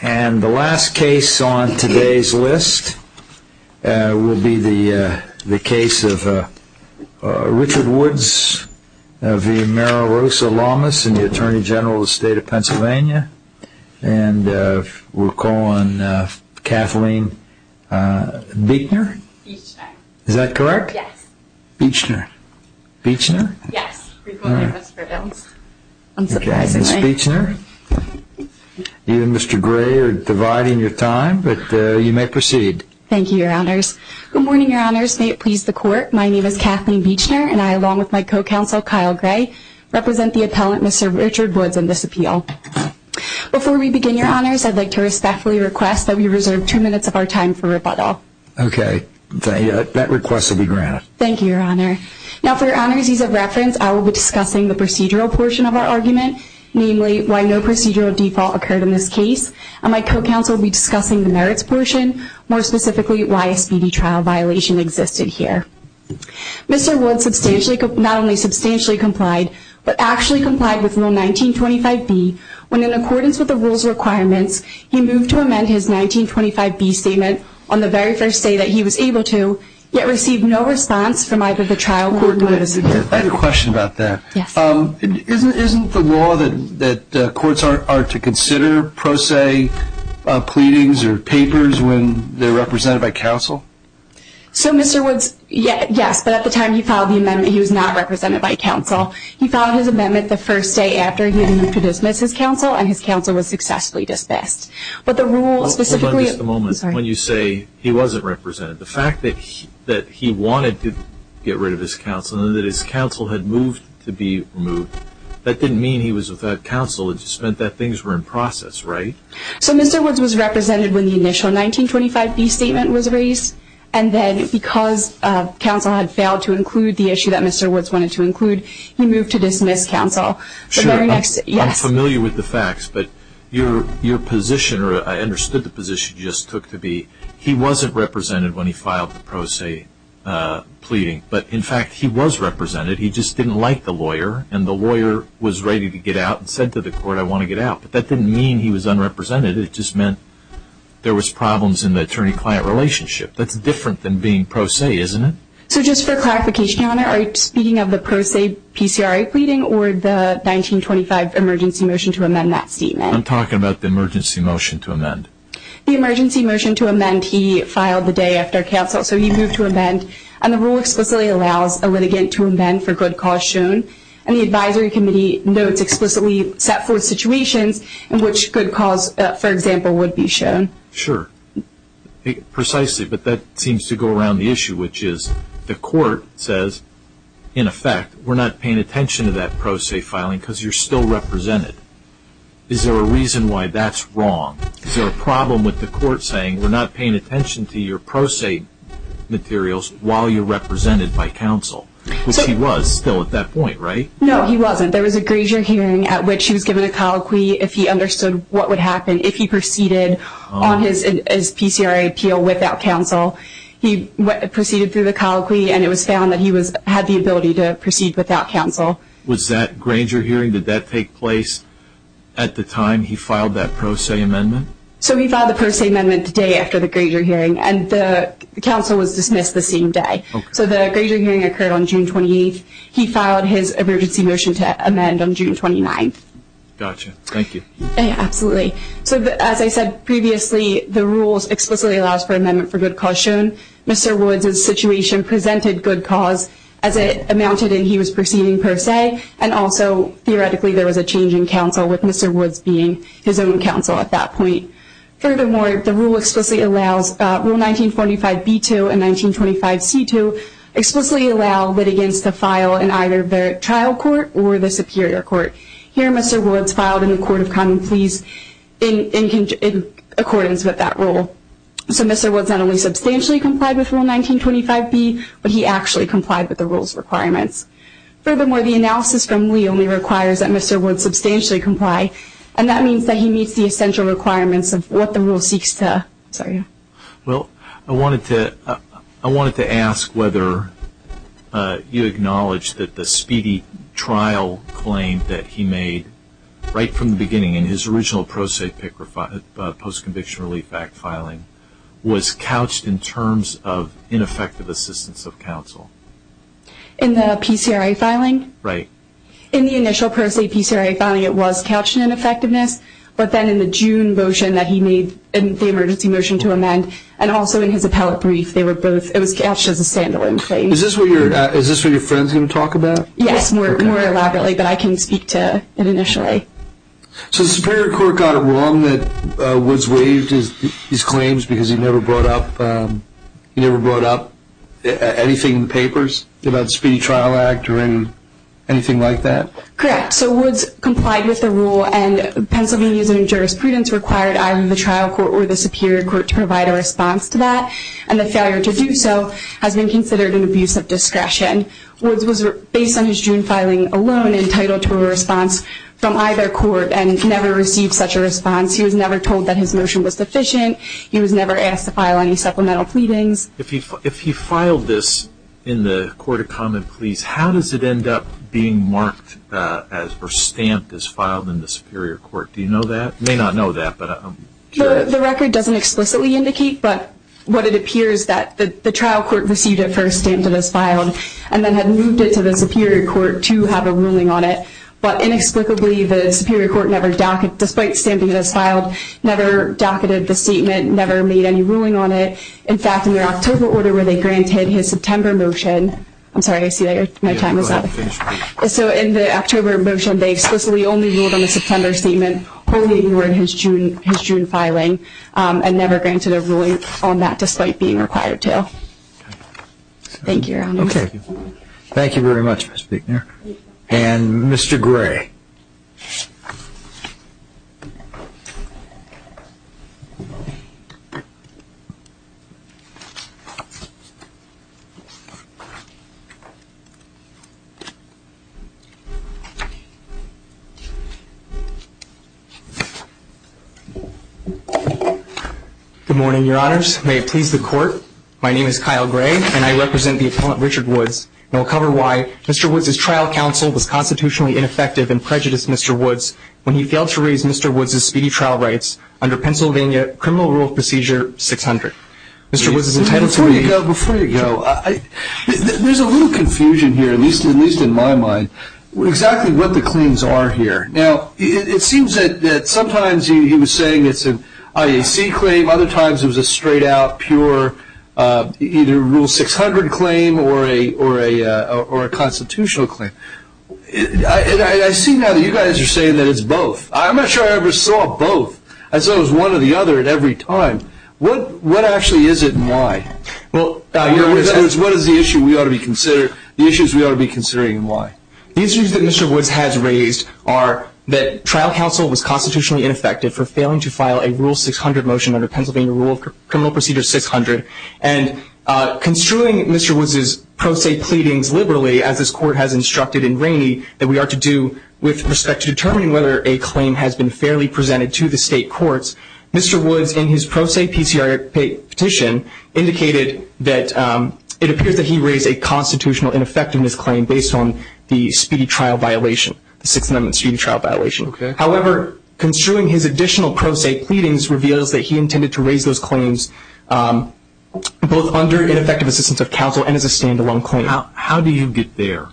And the last case on today's list will be the case of Richard Woods v. Mara Rosa Lamas in the Attorney General of the State of Pennsylvania. And we'll call on Kathleen Beechner. Beechner. Is that correct? Yes. Beechner. Beechner? Yes. We call her Ms. Beechner. Unsurprisingly. Ms. Beechner? You and Mr. Gray are dividing your time, but you may proceed. Thank you, Your Honors. Good morning, Your Honors. May it please the Court, my name is Kathleen Beechner, and I, along with my co-counsel, Kyle Gray, represent the appellant, Mr. Richard Woods, in this appeal. Before we begin, Your Honors, I'd like to respectfully request that we reserve two minutes of our time for rebuttal. Thank you, Your Honor. Now, for Your Honors' ease of reference, I will be discussing the procedural portion of our argument, namely, why no procedural default occurred in this case, and my co-counsel will be discussing the merits portion, more specifically, why a speedy trial violation existed here. Mr. Woods not only substantially complied, but actually complied with Rule 1925B when, in accordance with the rule's requirements, he moved to amend his 1925B statement on the very first day that he was able to, yet received no response from either the trial court or the Supreme Court. I have a question about that. Yes. Isn't the law that courts are to consider pro se pleadings or papers when they're represented by counsel? So, Mr. Woods, yes, but at the time he filed the amendment, he was not represented by counsel. He filed his amendment the first day after he had moved to dismiss his counsel, and his counsel was successfully dismissed. But the rule specifically… Hold on just a moment. Sorry. When you say he wasn't represented, the fact that he wanted to get rid of his counsel and that his counsel had moved to be removed, that didn't mean he was without counsel. It just meant that things were in process, right? So, Mr. Woods was represented when the initial 1925B statement was raised, and then because counsel had failed to include the issue that Mr. Woods wanted to include, he moved to dismiss counsel. Sure. I'm familiar with the facts, but your position, or I understood the position you just took to be, he wasn't represented when he filed the pro se pleading. But, in fact, he was represented. He just didn't like the lawyer, and the lawyer was ready to get out and said to the court, I want to get out. But that didn't mean he was unrepresented. It just meant there was problems in the attorney-client relationship. That's different than being pro se, isn't it? So, just for clarification, Your Honor, are you speaking of the pro se PCRA pleading or the 1925 emergency motion to amend that statement? I'm talking about the emergency motion to amend. The emergency motion to amend, he filed the day after counsel, so he moved to amend, and the rule explicitly allows a litigant to amend for good cause shown, and the advisory committee notes explicitly set forth situations in which good cause, for example, would be shown. Sure. Precisely, but that seems to go around the issue, which is the court says, in effect, we're not paying attention to that pro se filing because you're still represented. Is there a reason why that's wrong? Is there a problem with the court saying we're not paying attention to your pro se materials while you're represented by counsel? Which he was still at that point, right? No, he wasn't. There was a Grainger hearing at which he was given a colloquy if he understood what would happen if he proceeded on his PCRA appeal without counsel. He proceeded through the colloquy, and it was found that he had the ability to proceed without counsel. Was that Grainger hearing, did that take place at the time he filed that pro se amendment? So, he filed the pro se amendment the day after the Grainger hearing, and the counsel was dismissed the same day. Okay. So, the Grainger hearing occurred on June 28th. He filed his emergency motion to amend on June 29th. Gotcha. Thank you. Absolutely. So, as I said previously, the rules explicitly allows for amendment for good cause shown. Mr. Woods' situation presented good cause as it amounted in he was proceeding per se, and also theoretically there was a change in counsel with Mr. Woods being his own counsel at that point. Furthermore, the rule explicitly allows Rule 1945b2 and 1925c2 explicitly allow litigants to file in either the trial court or the superior court. Here, Mr. Woods filed in the Court of Common Pleas in accordance with that rule. So, Mr. Woods not only substantially complied with Rule 1925b, but he actually complied with the rule's requirements. Furthermore, the analysis from Lee only requires that Mr. Woods substantially comply, and that means that he meets the essential requirements of what the rule seeks to say. Well, I wanted to ask whether you acknowledge that the speedy trial claim that he made right from the beginning in his original pro se post-conviction relief act filing was couched in terms of ineffective assistance of counsel. In the PCRA filing? Right. In the initial pro se PCRA filing, it was couched in ineffectiveness, but then in the June motion that he made in the emergency motion to amend, and also in his appellate brief, it was couched as a standalone claim. Is this what your friend is going to talk about? Yes, more elaborately, but I can speak to it initially. So, the Superior Court got it wrong that Woods waived his claims because he never brought up anything in the papers about the Speedy Trial Act or anything like that? Correct. So, Woods complied with the rule, and Pennsylvania's new jurisprudence required either the trial court or the Superior Court to provide a response to that, and the failure to do so has been considered an abuse of discretion. Woods was, based on his June filing alone, entitled to a response from either court, and never received such a response. He was never told that his motion was sufficient. He was never asked to file any supplemental pleadings. If he filed this in the Court of Common Pleas, how does it end up being marked as, or stamped as filed in the Superior Court? Do you know that? You may not know that. The record doesn't explicitly indicate, but what it appears that the trial court received it first, and then had moved it to the Superior Court to have a ruling on it. But, inexplicably, the Superior Court, despite stamping it as filed, never docketed the statement, never made any ruling on it. In fact, in their October order where they granted his September motion, I'm sorry, I see my time is up. So, in the October motion, they explicitly only ruled on the September statement, only in his June filing, and never granted a ruling on that, despite being required to. Thank you, Your Honor. Okay. Thank you very much, Ms. Buechner. And Mr. Gray. Good morning, Your Honors. May it please the Court, my name is Kyle Gray, and I represent the appellant, Richard Woods. And I'll cover why Mr. Woods' trial counsel was constitutionally ineffective and prejudiced Mr. Woods when he failed to raise Mr. Woods' speedy trial rights under Pennsylvania Criminal Rule of Procedure 600. Mr. Woods is entitled to... Before you go, before you go, there's a little confusion here, at least in my mind, exactly what the claims are here. Now, it seems that sometimes he was saying it's an IAC claim, other times it was a straight out, pure, either Rule 600 claim or a constitutional claim. I see now that you guys are saying that it's both. I'm not sure I ever saw both. I saw one or the other at every time. What actually is it and why? What is the issue we ought to be considering, the issues we ought to be considering and why? The issues that Mr. Woods has raised are that trial counsel was constitutionally ineffective for failing to file a Rule 600 motion under Pennsylvania Rule of Criminal Procedure 600. And construing Mr. Woods' pro se pleadings liberally, as this court has instructed in Rainey, that we ought to do with respect to determining whether a claim has been fairly presented to the state courts, Mr. Woods, in his pro se PCR petition, indicated that it appears that he raised a constitutional ineffectiveness claim based on the speedy trial violation, the Sixth Amendment speedy trial violation. However, construing his additional pro se pleadings reveals that he intended to raise those claims both under ineffective assistance of counsel and as a stand-alone claim. How do you get there?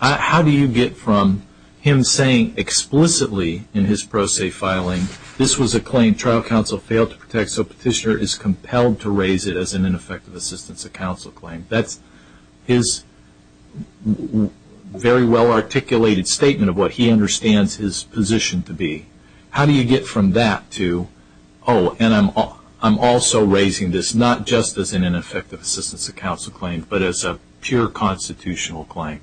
How do you get from him saying explicitly in his pro se filing, this was a claim trial counsel failed to protect, so petitioner is compelled to raise it as an ineffective assistance of counsel claim? That's his very well-articulated statement of what he understands his position to be. How do you get from that to, oh, and I'm also raising this not just as an ineffective assistance of counsel claim, but as a pure constitutional claim?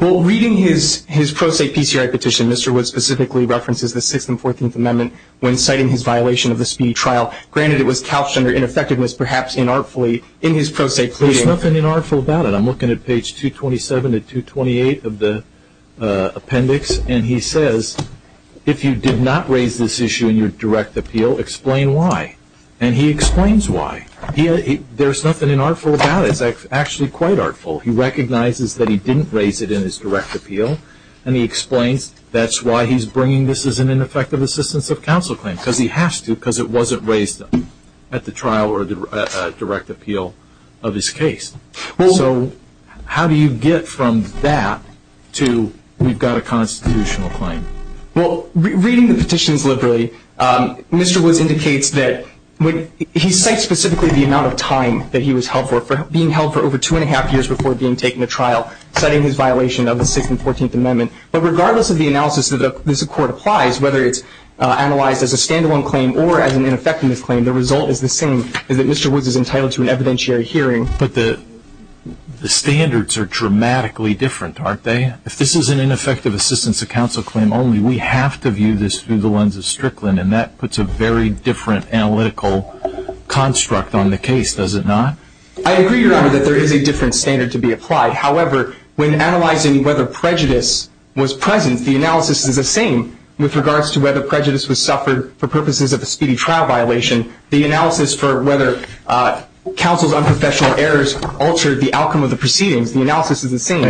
Well, reading his pro se PCR petition, Mr. Woods specifically references the Sixth and Fourteenth Amendment when citing his violation of the speedy trial. Granted, it was couched under ineffectiveness, perhaps inartfully, in his pro se pleadings. There's nothing inartful about it. I'm looking at page 227 to 228 of the appendix, and he says, if you did not raise this issue in your direct appeal, explain why. And he explains why. There's nothing inartful about it. It's actually quite artful. He recognizes that he didn't raise it in his direct appeal, and he explains that's why he's bringing this as an ineffective assistance of counsel claim, because he has to, because it wasn't raised at the trial or a direct appeal of his case. So how do you get from that to we've got a constitutional claim? Well, reading the petitions liberally, Mr. Woods indicates that he cites specifically the amount of time that he was held for, being held for over two and a half years before being taken to trial, citing his violation of the Sixth and Fourteenth Amendment. But regardless of the analysis that this court applies, whether it's analyzed as a stand-alone claim or as an ineffectiveness claim, the result is the same, is that Mr. Woods is entitled to an evidentiary hearing. But the standards are dramatically different, aren't they? If this is an ineffective assistance of counsel claim only, we have to view this through the lens of Strickland, and that puts a very different analytical construct on the case, does it not? I agree, Your Honor, that there is a different standard to be applied. However, when analyzing whether prejudice was present, the analysis is the same with regards to whether prejudice was suffered for purposes of a speedy trial violation. The analysis for whether counsel's unprofessional errors altered the outcome of the proceedings, the analysis is the same.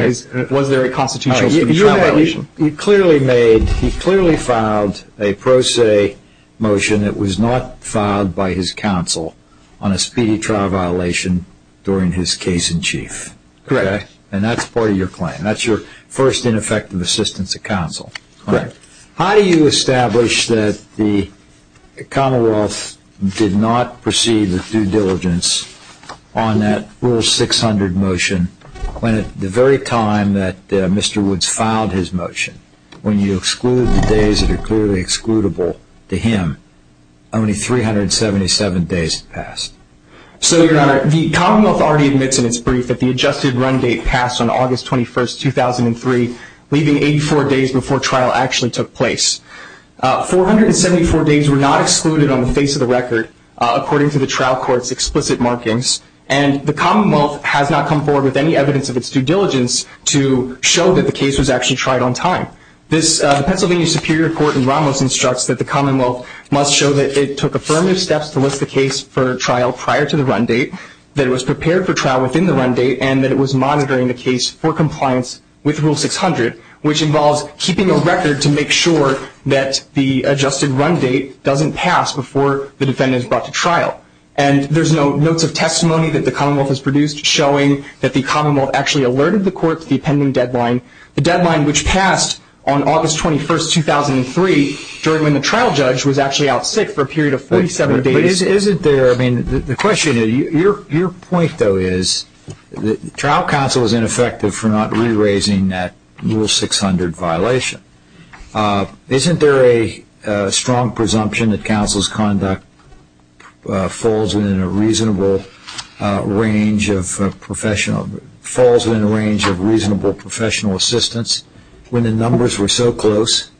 Was there a constitutional speedy trial violation? Your Honor, you clearly made, he clearly filed a pro se motion that was not filed by his counsel on a speedy trial violation during his case in chief. Correct. And that's part of your claim. That's your first ineffective assistance of counsel. Correct. How do you establish that the Commonwealth did not proceed with due diligence on that Rule 600 motion when at the very time that Mr. Woods filed his motion, when you exclude the days that are clearly excludable to him, only 377 days had passed? So, Your Honor, the Commonwealth already admits in its brief that the adjusted run date passed on August 21, 2003, leaving 84 days before trial actually took place. 474 days were not excluded on the face of the record, according to the trial court's explicit markings, and the Commonwealth has not come forward with any evidence of its due diligence to show that the case was actually tried on time. The Pennsylvania Superior Court in Ramos instructs that the Commonwealth must show that it took affirmative steps to list the case for trial prior to the run date, that it was prepared for trial within the run date, and that it was monitoring the case for compliance with Rule 600, which involves keeping a record to make sure that the adjusted run date doesn't pass before the defendant is brought to trial. And there's no notes of testimony that the Commonwealth has produced showing that the Commonwealth actually alerted the court to the pending deadline, the deadline which passed on August 21, 2003, during when the trial judge was actually out sick for a period of 47 days. Your point, though, is that trial counsel is ineffective for not re-raising that Rule 600 violation. Isn't there a strong presumption that counsel's conduct falls within a reasonable range of professional assistance when the numbers were so close?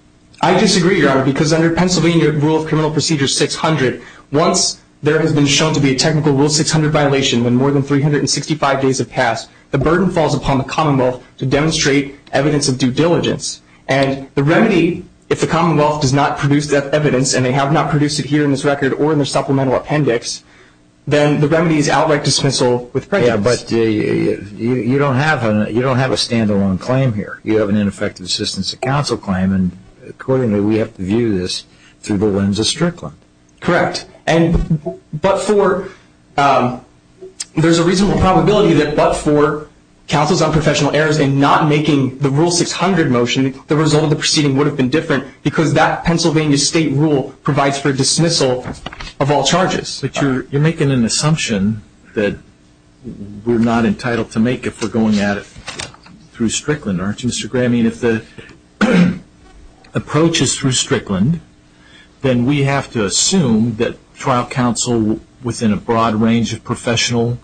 I disagree, Your Honor, because under Pennsylvania Rule of Criminal Procedure 600, once there has been shown to be a technical Rule 600 violation when more than 365 days have passed, the burden falls upon the Commonwealth to demonstrate evidence of due diligence. And the remedy, if the Commonwealth does not produce that evidence, and they have not produced it here in this record or in their supplemental appendix, then the remedy is outright dismissal with prejudice. Yeah, but you don't have a stand-alone claim here. You have an ineffective assistance to counsel claim, and accordingly we have to view this through the lens of Strickland. Correct. And there's a reasonable probability that but for counsel's unprofessional errors in not making the Rule 600 motion, the result of the proceeding would have been different because that Pennsylvania state rule provides for dismissal of all charges. But you're making an assumption that we're not entitled to make if we're going at it through Strickland, aren't you, Mr. Gray? I mean, if the approach is through Strickland, then we have to assume that trial counsel within a broad range of professional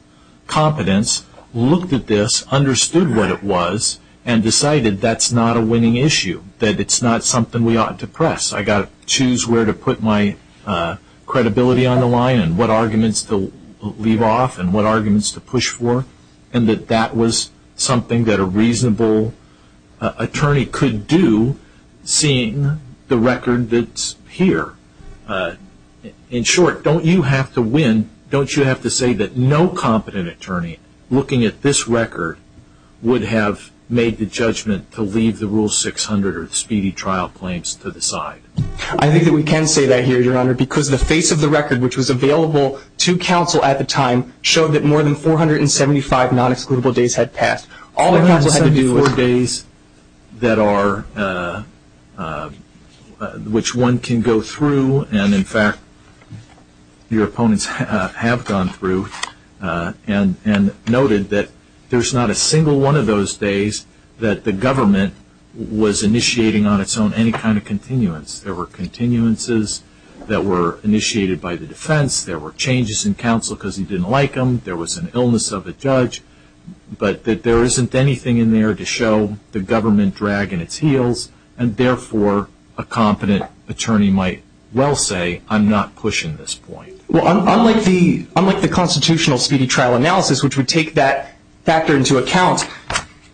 competence looked at this, understood what it was, and decided that's not a winning issue, that it's not something we ought to press. I've got to choose where to put my credibility on the line and what arguments to leave off and what arguments to push for, and that that was something that a reasonable attorney could do seeing the record that's here. In short, don't you have to win, don't you have to say that no competent attorney looking at this record would have made the judgment to leave the Rule 600 or the speedy trial claims to the side? I think that we can say that here, Your Honor, because the face of the record which was available to counsel at the time showed that more than 475 non-excludable days had passed. All the counsel had to do was- which one can go through and, in fact, your opponents have gone through and noted that there's not a single one of those days that the government was initiating on its own any kind of continuance. There were continuances that were initiated by the defense, there were changes in counsel because he didn't like them, there was an illness of a judge, but that there isn't anything in there to show the government dragging its heels and, therefore, a competent attorney might well say, I'm not pushing this point. Well, unlike the constitutional speedy trial analysis, which would take that factor into account,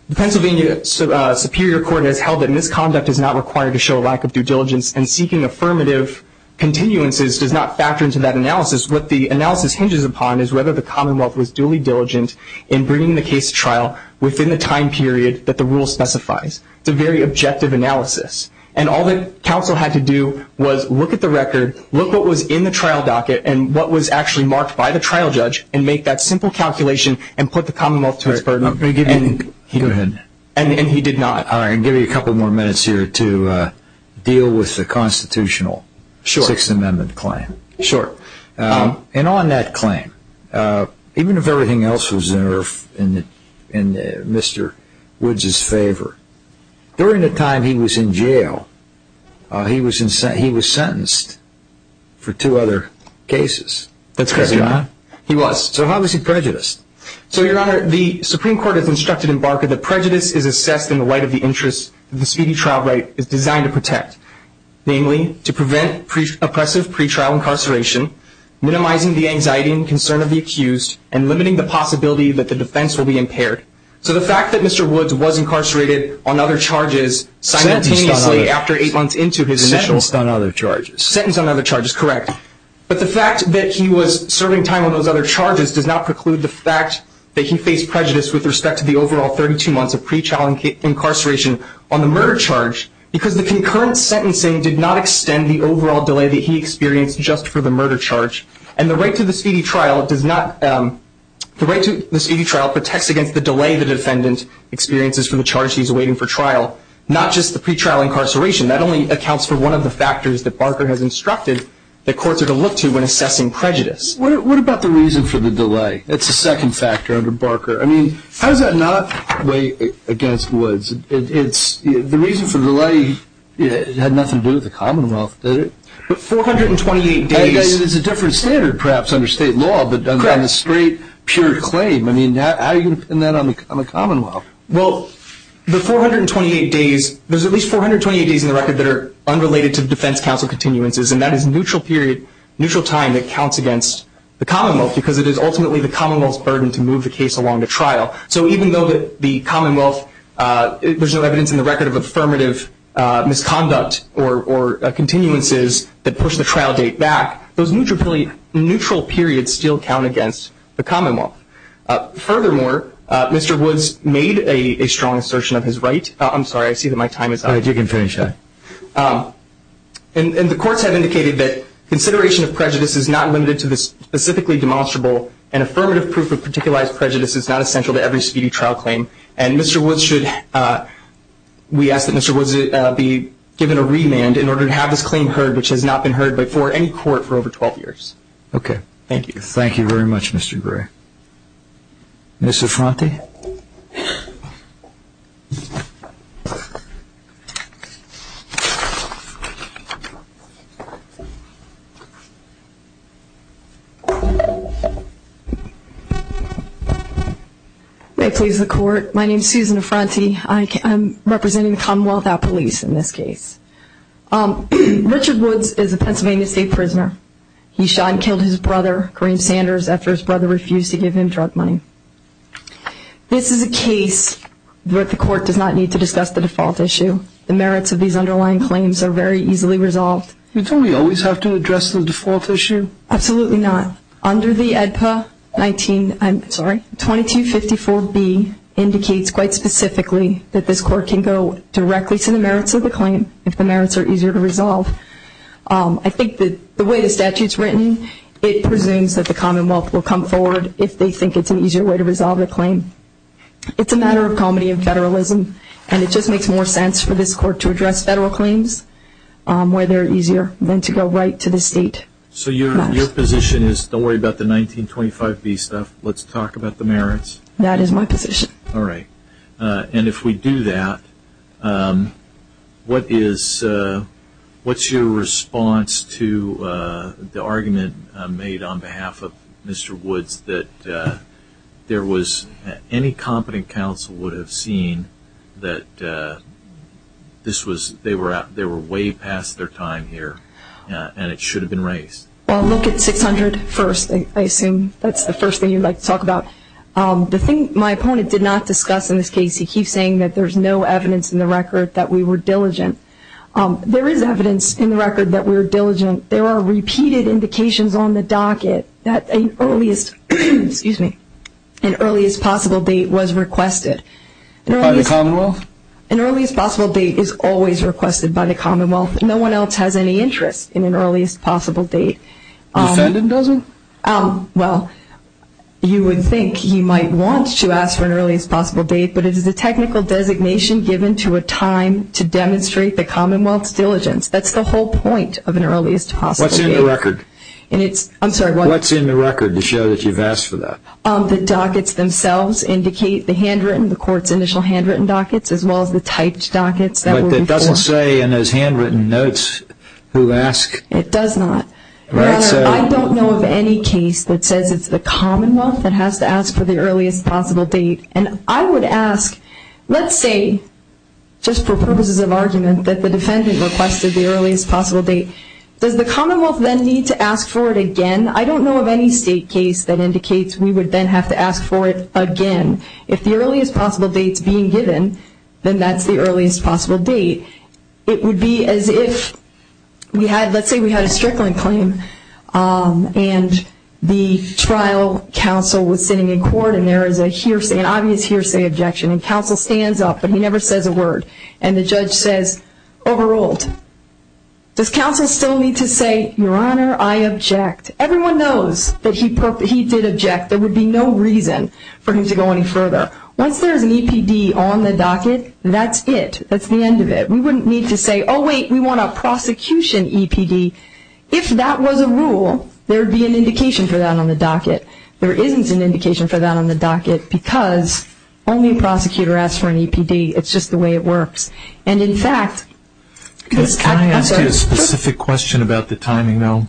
the Pennsylvania Superior Court has held that misconduct is not required to show a lack of due diligence and seeking affirmative continuances does not factor into that analysis. What the analysis hinges upon is whether the Commonwealth was duly diligent in bringing the case to trial within the time period that the Rule specifies. It's a very objective analysis. And all that counsel had to do was look at the record, look what was in the trial docket and what was actually marked by the trial judge and make that simple calculation and put the Commonwealth to its burden. Go ahead. And he did not. I'll give you a couple more minutes here to deal with the constitutional Sixth Amendment claim. Sure. And on that claim, even if everything else was in Mr. Woods' favor, during the time he was in jail, he was sentenced for two other cases. That's correct, Your Honor. He was. So how was he prejudiced? So, Your Honor, the Supreme Court has instructed Embargo that prejudice is assessed in the light of the interests that the speedy trial rate is designed to protect, namely to prevent oppressive pretrial incarceration, minimizing the anxiety and concern of the accused, and limiting the possibility that the defense will be impaired. So the fact that Mr. Woods was incarcerated on other charges simultaneously after eight months into his initial – Sentenced on other charges. Sentenced on other charges, correct. But the fact that he was serving time on those other charges does not preclude the fact that he faced prejudice with respect to the overall 32 months of pretrial incarceration on the murder charge because the concurrent sentencing did not extend the overall delay that he experienced just for the murder charge. And the right to the speedy trial does not – the right to the speedy trial protects against the delay the defendant experiences for the charge he's awaiting for trial, not just the pretrial incarceration. That only accounts for one of the factors that Barker has instructed that courts are to look to when assessing prejudice. What about the reason for the delay? It's a second factor under Barker. I mean, how does that not weigh against Woods? The reason for the delay had nothing to do with the Commonwealth, did it? But 428 days – It's a different standard, perhaps, under state law. Correct. But on a straight, pure claim, I mean, how are you going to pin that on the Commonwealth? Well, the 428 days – there's at least 428 days in the record that are unrelated to defense counsel continuances, and that is neutral period, neutral time that counts against the Commonwealth because it is ultimately the Commonwealth's burden to move the case along to trial. So even though the Commonwealth – there's no evidence in the record of affirmative misconduct or continuances that push the trial date back, those neutral periods still count against the Commonwealth. Furthermore, Mr. Woods made a strong assertion of his right – I'm sorry, I see that my time is up. All right, you can finish up. And the courts have indicated that consideration of prejudice is not limited to the specifically demonstrable, and affirmative proof of particularized prejudice is not essential to every speedy trial claim. And Mr. Woods should – we ask that Mr. Woods be given a remand in order to have this claim heard, which has not been heard before in court for over 12 years. Okay. Thank you. Thank you very much, Mr. Gray. Ms. Affronti? May it please the Court, my name is Susan Affronti. I'm representing the Commonwealth Out Police in this case. Richard Woods is a Pennsylvania State prisoner. He shot and killed his brother, Kareem Sanders, after his brother refused to give him drug money. This is a case where the Court does not need to discuss the default issue. The merits of these underlying claims are very easily resolved. Don't we always have to address the default issue? Absolutely not. Under the ADPA 19 – I'm sorry, 2254B indicates quite specifically that this Court can go directly to the merits of the claim if the merits are easier to resolve. I think that the way the statute is written, it presumes that the Commonwealth will come forward if they think it's an easier way to resolve the claim. It's a matter of comedy and federalism, and it just makes more sense for this Court to address federal claims where they're easier than to go right to the state. So your position is, don't worry about the 1925B stuff, let's talk about the merits? That is my position. All right. And if we do that, what's your response to the argument made on behalf of Mr. Woods that any competent counsel would have seen that they were way past their time here and it should have been raised? Well, look at 600 first. I assume that's the first thing you'd like to talk about. The thing my opponent did not discuss in this case, he keeps saying that there's no evidence in the record that we were diligent. There is evidence in the record that we were diligent. There are repeated indications on the docket that an earliest possible date was requested. By the Commonwealth? An earliest possible date is always requested by the Commonwealth. No one else has any interest in an earliest possible date. The defendant doesn't? Well, you would think he might want to ask for an earliest possible date, but it is a technical designation given to a time to demonstrate the Commonwealth's diligence. That's the whole point of an earliest possible date. What's in the record? I'm sorry, what? What's in the record to show that you've asked for that? The dockets themselves indicate the handwritten, the court's initial handwritten dockets, as well as the typed dockets that were before. But that doesn't say in those handwritten notes who asked? It does not. I don't know of any case that says it's the Commonwealth that has to ask for the earliest possible date. And I would ask, let's say, just for purposes of argument, that the defendant requested the earliest possible date. Does the Commonwealth then need to ask for it again? I don't know of any state case that indicates we would then have to ask for it again. If the earliest possible date is being given, then that's the earliest possible date. It would be as if we had, let's say we had a Strickland claim, and the trial counsel was sitting in court, and there is an obvious hearsay objection. And counsel stands up, but he never says a word. And the judge says, overruled. Does counsel still need to say, Your Honor, I object? Everyone knows that he did object. There would be no reason for him to go any further. Once there is an EPD on the docket, that's it. That's the end of it. We wouldn't need to say, Oh, wait, we want a prosecution EPD. If that was a rule, there would be an indication for that on the docket. There isn't an indication for that on the docket because only a prosecutor asks for an EPD. It's just the way it works. And, in fact, it's at the- Can I ask you a specific question about the timing, though?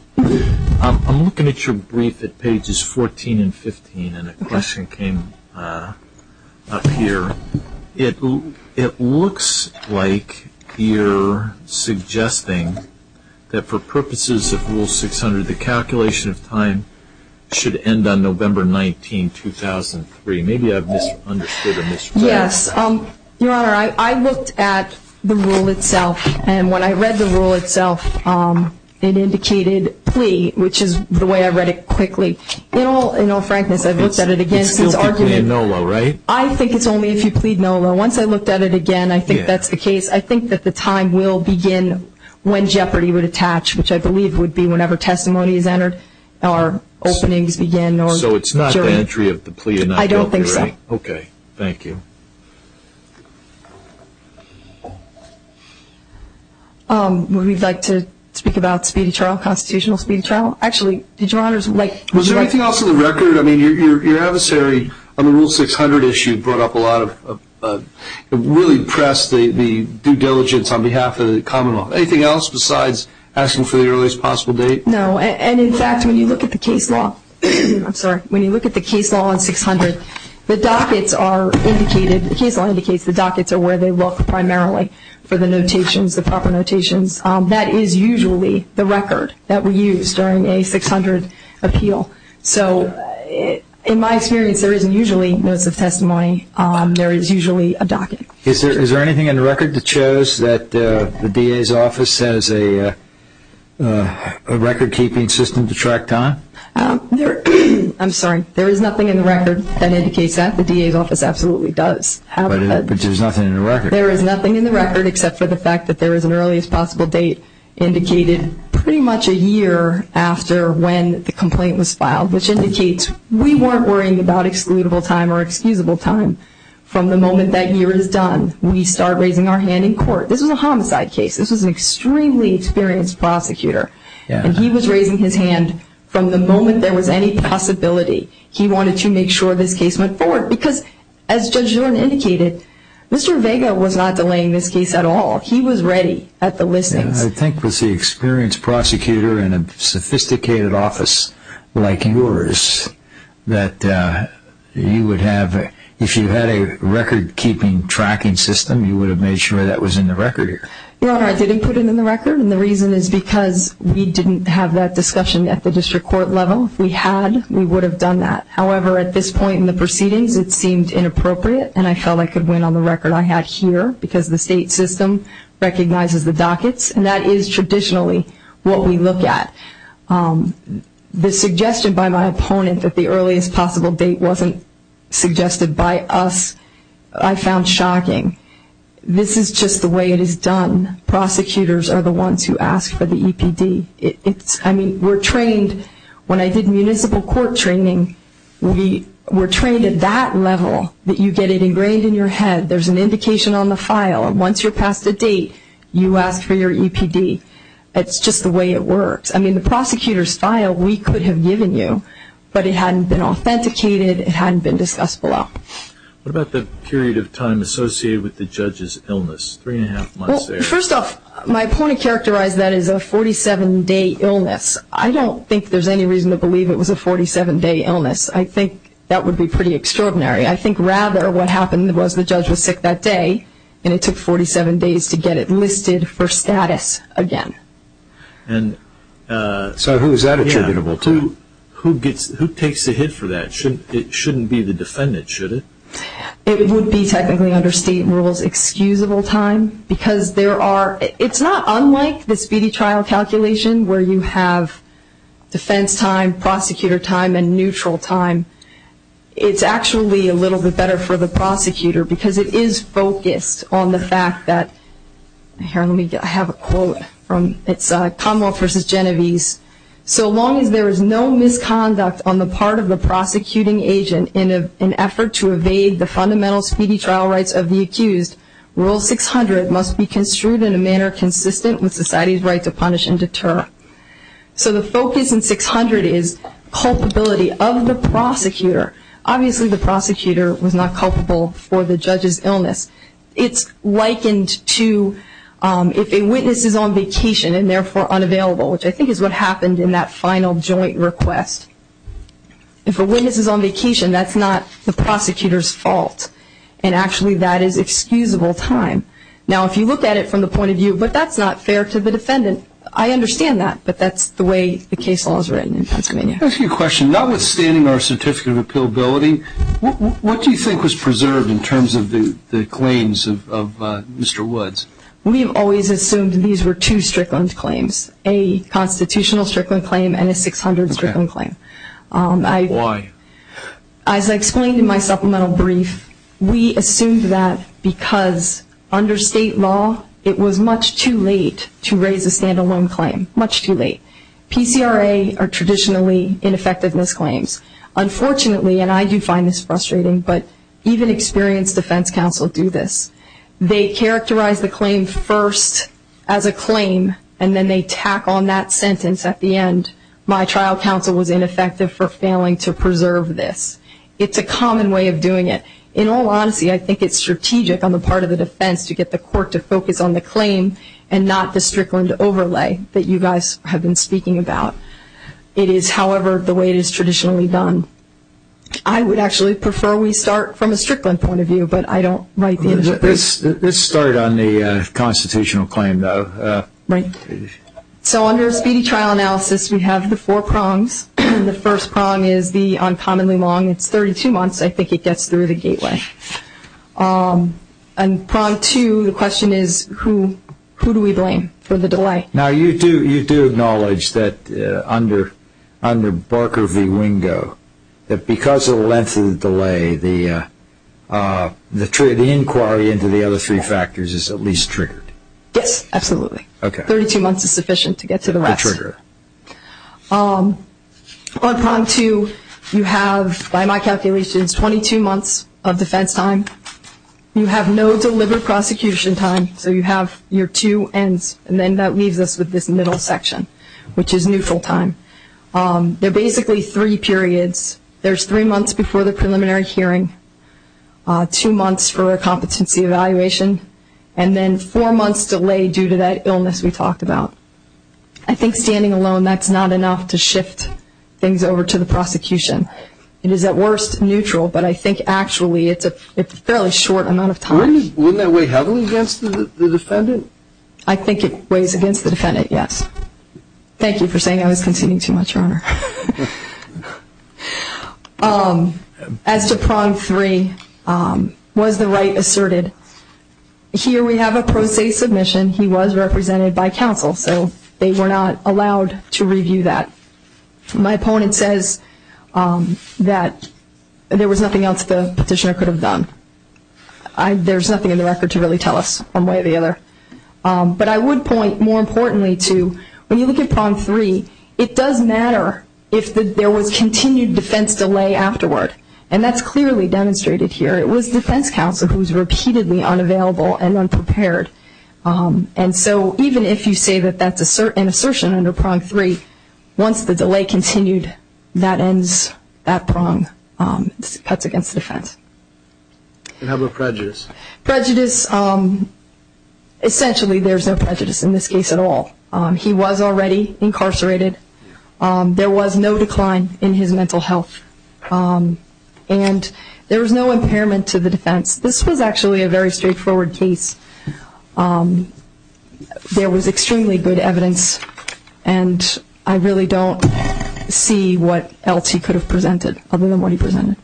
I'm looking at your brief at pages 14 and 15, and a question came up here. It looks like you're suggesting that for purposes of Rule 600, the calculation of time should end on November 19, 2003. Maybe I've misunderstood or misread it. Yes. Your Honor, I looked at the rule itself. And when I read the rule itself, it indicated plea, which is the way I read it quickly. In all frankness, I've looked at it again since argument. It's still plea and NOLA, right? I think it's only if you plead NOLA. Once I looked at it again, I think that's the case. I think that the time will begin when jeopardy would attach, which I believe would be whenever testimony is entered or openings begin or jury. So it's not the entry of the plea and not the opening, right? I don't think so. Okay. Thank you. Would we like to speak about speedy trial, constitutional speedy trial? Actually, did Your Honors like to? Was there anything else on the record? I mean, your adversary on the Rule 600 issue brought up a lot of and really pressed the due diligence on behalf of the common law. Anything else besides asking for the earliest possible date? No. And, in fact, when you look at the case law, I'm sorry, when you look at the case law on 600, the dockets are indicated, the case law indicates the dockets are where they look primarily for the notations, the proper notations. That is usually the record that we use during a 600 appeal. So in my experience, there isn't usually notes of testimony. There is usually a docket. Is there anything in the record that shows that the DA's office has a record-keeping system to track time? I'm sorry. There is nothing in the record that indicates that. The DA's office absolutely does. But there's nothing in the record. There is nothing in the record except for the fact that there is an earliest possible date indicated pretty much a year after when the complaint was filed, which indicates we weren't worrying about excludable time or excusable time. From the moment that year is done, we start raising our hand in court. This was a homicide case. This was an extremely experienced prosecutor, and he was raising his hand from the moment there was any possibility. He wanted to make sure this case went forward because, as Judge Zorn indicated, Mr. Vega was not delaying this case at all. He was ready at the listings. I think with the experienced prosecutor in a sophisticated office like yours, that you would have, if you had a record-keeping tracking system, you would have made sure that was in the record. Your Honor, I didn't put it in the record, and the reason is because we didn't have that discussion at the district court level. If we had, we would have done that. However, at this point in the proceedings, it seemed inappropriate, and I felt I could win on the record I had here because the state system recognizes the dockets, and that is traditionally what we look at. The suggestion by my opponent that the earliest possible date wasn't suggested by us, I found shocking. This is just the way it is done. Prosecutors are the ones who ask for the EPD. I mean, we're trained. When I did municipal court training, we were trained at that level that you get it ingrained in your head. There's an indication on the file. Once you're past a date, you ask for your EPD. It's just the way it works. I mean, the prosecutor's file we could have given you, but it hadn't been authenticated. It hadn't been discussed below. What about the period of time associated with the judge's illness, three and a half months there? Well, first off, my opponent characterized that as a 47-day illness. I don't think there's any reason to believe it was a 47-day illness. I think that would be pretty extraordinary. I think rather what happened was the judge was sick that day, and it took 47 days to get it listed for status again. So who is that attributable to? Who takes the hit for that? It shouldn't be the defendant, should it? It would be technically under state rules, excusable time, because there are – it's not unlike the speedy trial calculation where you have defense time, prosecutor time, and neutral time. It's actually a little bit better for the prosecutor, because it is focused on the fact that – here, let me have a quote. It's Commonwealth v. Genovese. So long as there is no misconduct on the part of the prosecuting agent in an effort to evade the fundamental speedy trial rights of the accused, Rule 600 must be construed in a manner consistent with society's right to punish and deter. So the focus in 600 is culpability of the prosecutor. Obviously the prosecutor was not culpable for the judge's illness. It's likened to if a witness is on vacation and therefore unavailable, which I think is what happened in that final joint request. If a witness is on vacation, that's not the prosecutor's fault, and actually that is excusable time. Now if you look at it from the point of view, but that's not fair to the defendant, I understand that, but that's the way the case law is written in Pennsylvania. I have a few questions. Notwithstanding our certificate of appealability, what do you think was preserved in terms of the claims of Mr. Woods? We have always assumed these were two Strickland claims, a constitutional Strickland claim and a 600 Strickland claim. Why? As I explained in my supplemental brief, we assumed that because under state law, it was much too late to raise a stand-alone claim, much too late. PCRA are traditionally ineffectiveness claims. Unfortunately, and I do find this frustrating, but even experienced defense counsel do this. They characterize the claim first as a claim, and then they tack on that sentence at the end. My trial counsel was ineffective for failing to preserve this. It's a common way of doing it. In all honesty, I think it's strategic on the part of the defense to get the court to focus on the claim and not the Strickland overlay that you guys have been speaking about. It is, however, the way it is traditionally done. I would actually prefer we start from a Strickland point of view, but I don't write the initial brief. Let's start on the constitutional claim, though. Right. So under a speedy trial analysis, we have the four prongs. The first prong is the uncommonly long. It's 32 months. I think it gets through the gateway. And prong two, the question is who do we blame for the delay? Now, you do acknowledge that under Barker v. Wingo, that because of the length of the delay, the inquiry into the other three factors is at least triggered. Yes, absolutely. Okay. Thirty-two months is sufficient to get to the rest. To trigger it. On prong two, you have, by my calculations, 22 months of defense time. You have no deliberate prosecution time, so you have your two ends, and then that leaves us with this middle section, which is neutral time. They're basically three periods. There's three months before the preliminary hearing, two months for a competency evaluation, and then four months delayed due to that illness we talked about. I think standing alone, that's not enough to shift things over to the prosecution. It is, at worst, neutral, but I think actually it's a fairly short amount of time. Wouldn't that weigh heavily against the defendant? I think it weighs against the defendant, yes. Thank you for saying I was conceding too much, Your Honor. As to prong three, was the right asserted? Here we have a pro se submission. He was represented by counsel, so they were not allowed to review that. My opponent says that there was nothing else the petitioner could have done. There's nothing in the record to really tell us one way or the other. But I would point more importantly to when you look at prong three, it does matter if there was continued defense delay afterward, and that's clearly demonstrated here. It was defense counsel who was repeatedly unavailable and unprepared. And so even if you say that that's an assertion under prong three, once the delay continued, that ends that prong. That's against defense. And how about prejudice? Prejudice, essentially there's no prejudice in this case at all. He was already incarcerated. There was no decline in his mental health. And there was no impairment to the defense. This was actually a very straightforward case. There was extremely good evidence, and I really don't see what else he could have presented other than what he presented.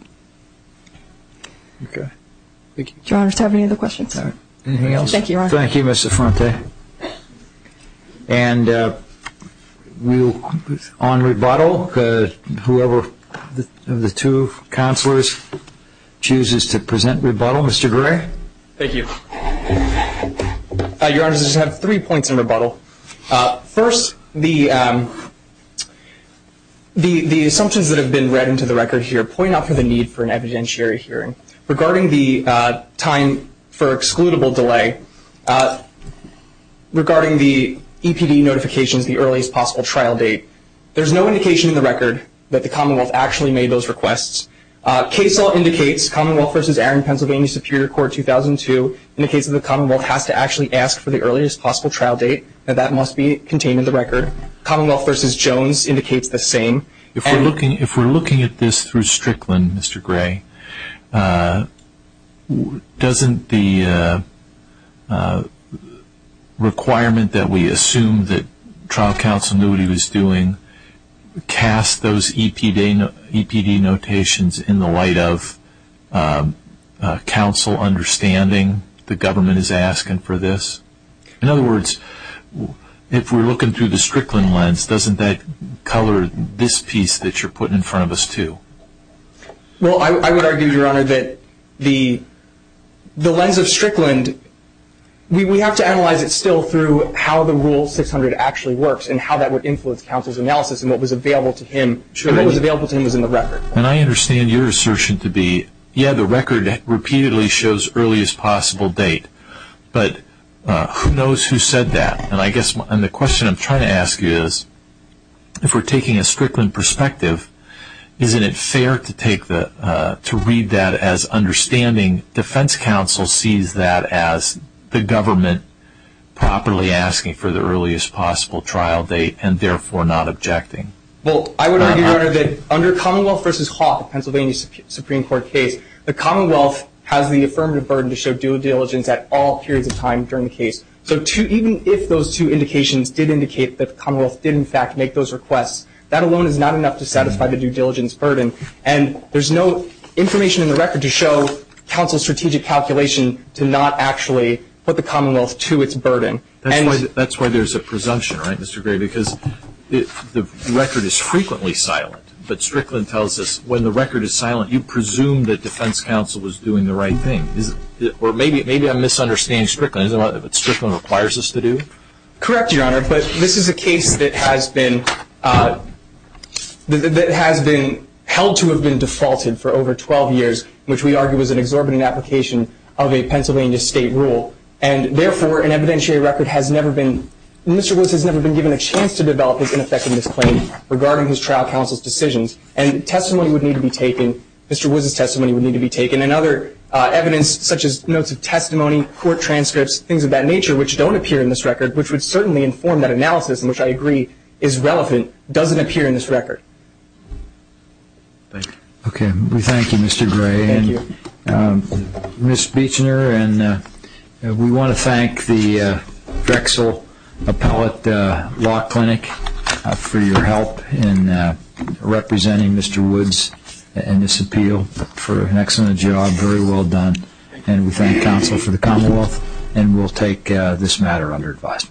Okay. Thank you. Anything else? Thank you, Your Honor. Thank you, Mr. Fronte. And on rebuttal, whoever of the two counselors chooses to present rebuttal. Mr. Gray? Thank you. Your Honor, I just have three points in rebuttal. First, the assumptions that have been read into the record here point out the need for an evidentiary hearing. Regarding the time for excludable delay, regarding the EPD notifications, the earliest possible trial date, there's no indication in the record that the Commonwealth actually made those requests. Case law indicates Commonwealth v. Aaron, Pennsylvania Superior Court, 2002, indicates that the Commonwealth has to actually ask for the earliest possible trial date, and that must be contained in the record. Commonwealth v. Jones indicates the same. If we're looking at this through Strickland, Mr. Gray, doesn't the requirement that we assume that trial counsel knew what he was doing cast those EPD notations in the light of counsel understanding the government is asking for this? In other words, if we're looking through the Strickland lens, doesn't that color this piece that you're putting in front of us, too? Well, I would argue, Your Honor, that the lens of Strickland, we have to analyze it still through how the Rule 600 actually works and how that would influence counsel's analysis and what was available to him. And what was available to him was in the record. And I understand your assertion to be, yeah, the record repeatedly shows earliest possible date, but who knows who said that? And the question I'm trying to ask you is, if we're taking a Strickland perspective, isn't it fair to read that as understanding defense counsel sees that as the government properly asking for the earliest possible trial date and therefore not objecting? Well, I would argue, Your Honor, that under Commonwealth v. Hawk, the Pennsylvania Supreme Court case, the Commonwealth has the affirmative burden to show due diligence at all periods of time during the case. So even if those two indications did indicate that the Commonwealth did, in fact, make those requests, that alone is not enough to satisfy the due diligence burden. And there's no information in the record to show counsel's strategic calculation to not actually put the Commonwealth to its burden. That's why there's a presumption, right, Mr. Gray, because the record is frequently silent. But Strickland tells us when the record is silent, you presume that defense counsel was doing the right thing. Or maybe I'm misunderstanding Strickland. Isn't that what Strickland requires us to do? Correct, Your Honor. But this is a case that has been held to have been defaulted for over 12 years, which we argue was an exorbitant application of a Pennsylvania state rule. And therefore, an evidentiary record has never been – regarding his trial counsel's decisions. And testimony would need to be taken. Mr. Woods' testimony would need to be taken. And other evidence, such as notes of testimony, court transcripts, things of that nature, which don't appear in this record, which would certainly inform that analysis, and which I agree is relevant, doesn't appear in this record. Okay. We thank you, Mr. Gray. Thank you. Ms. Beechner, we want to thank the Drexel Appellate Law Clinic for your help in representing Mr. Woods in this appeal for an excellent job, very well done. And we thank counsel for the Commonwealth, and we'll take this matter under advice.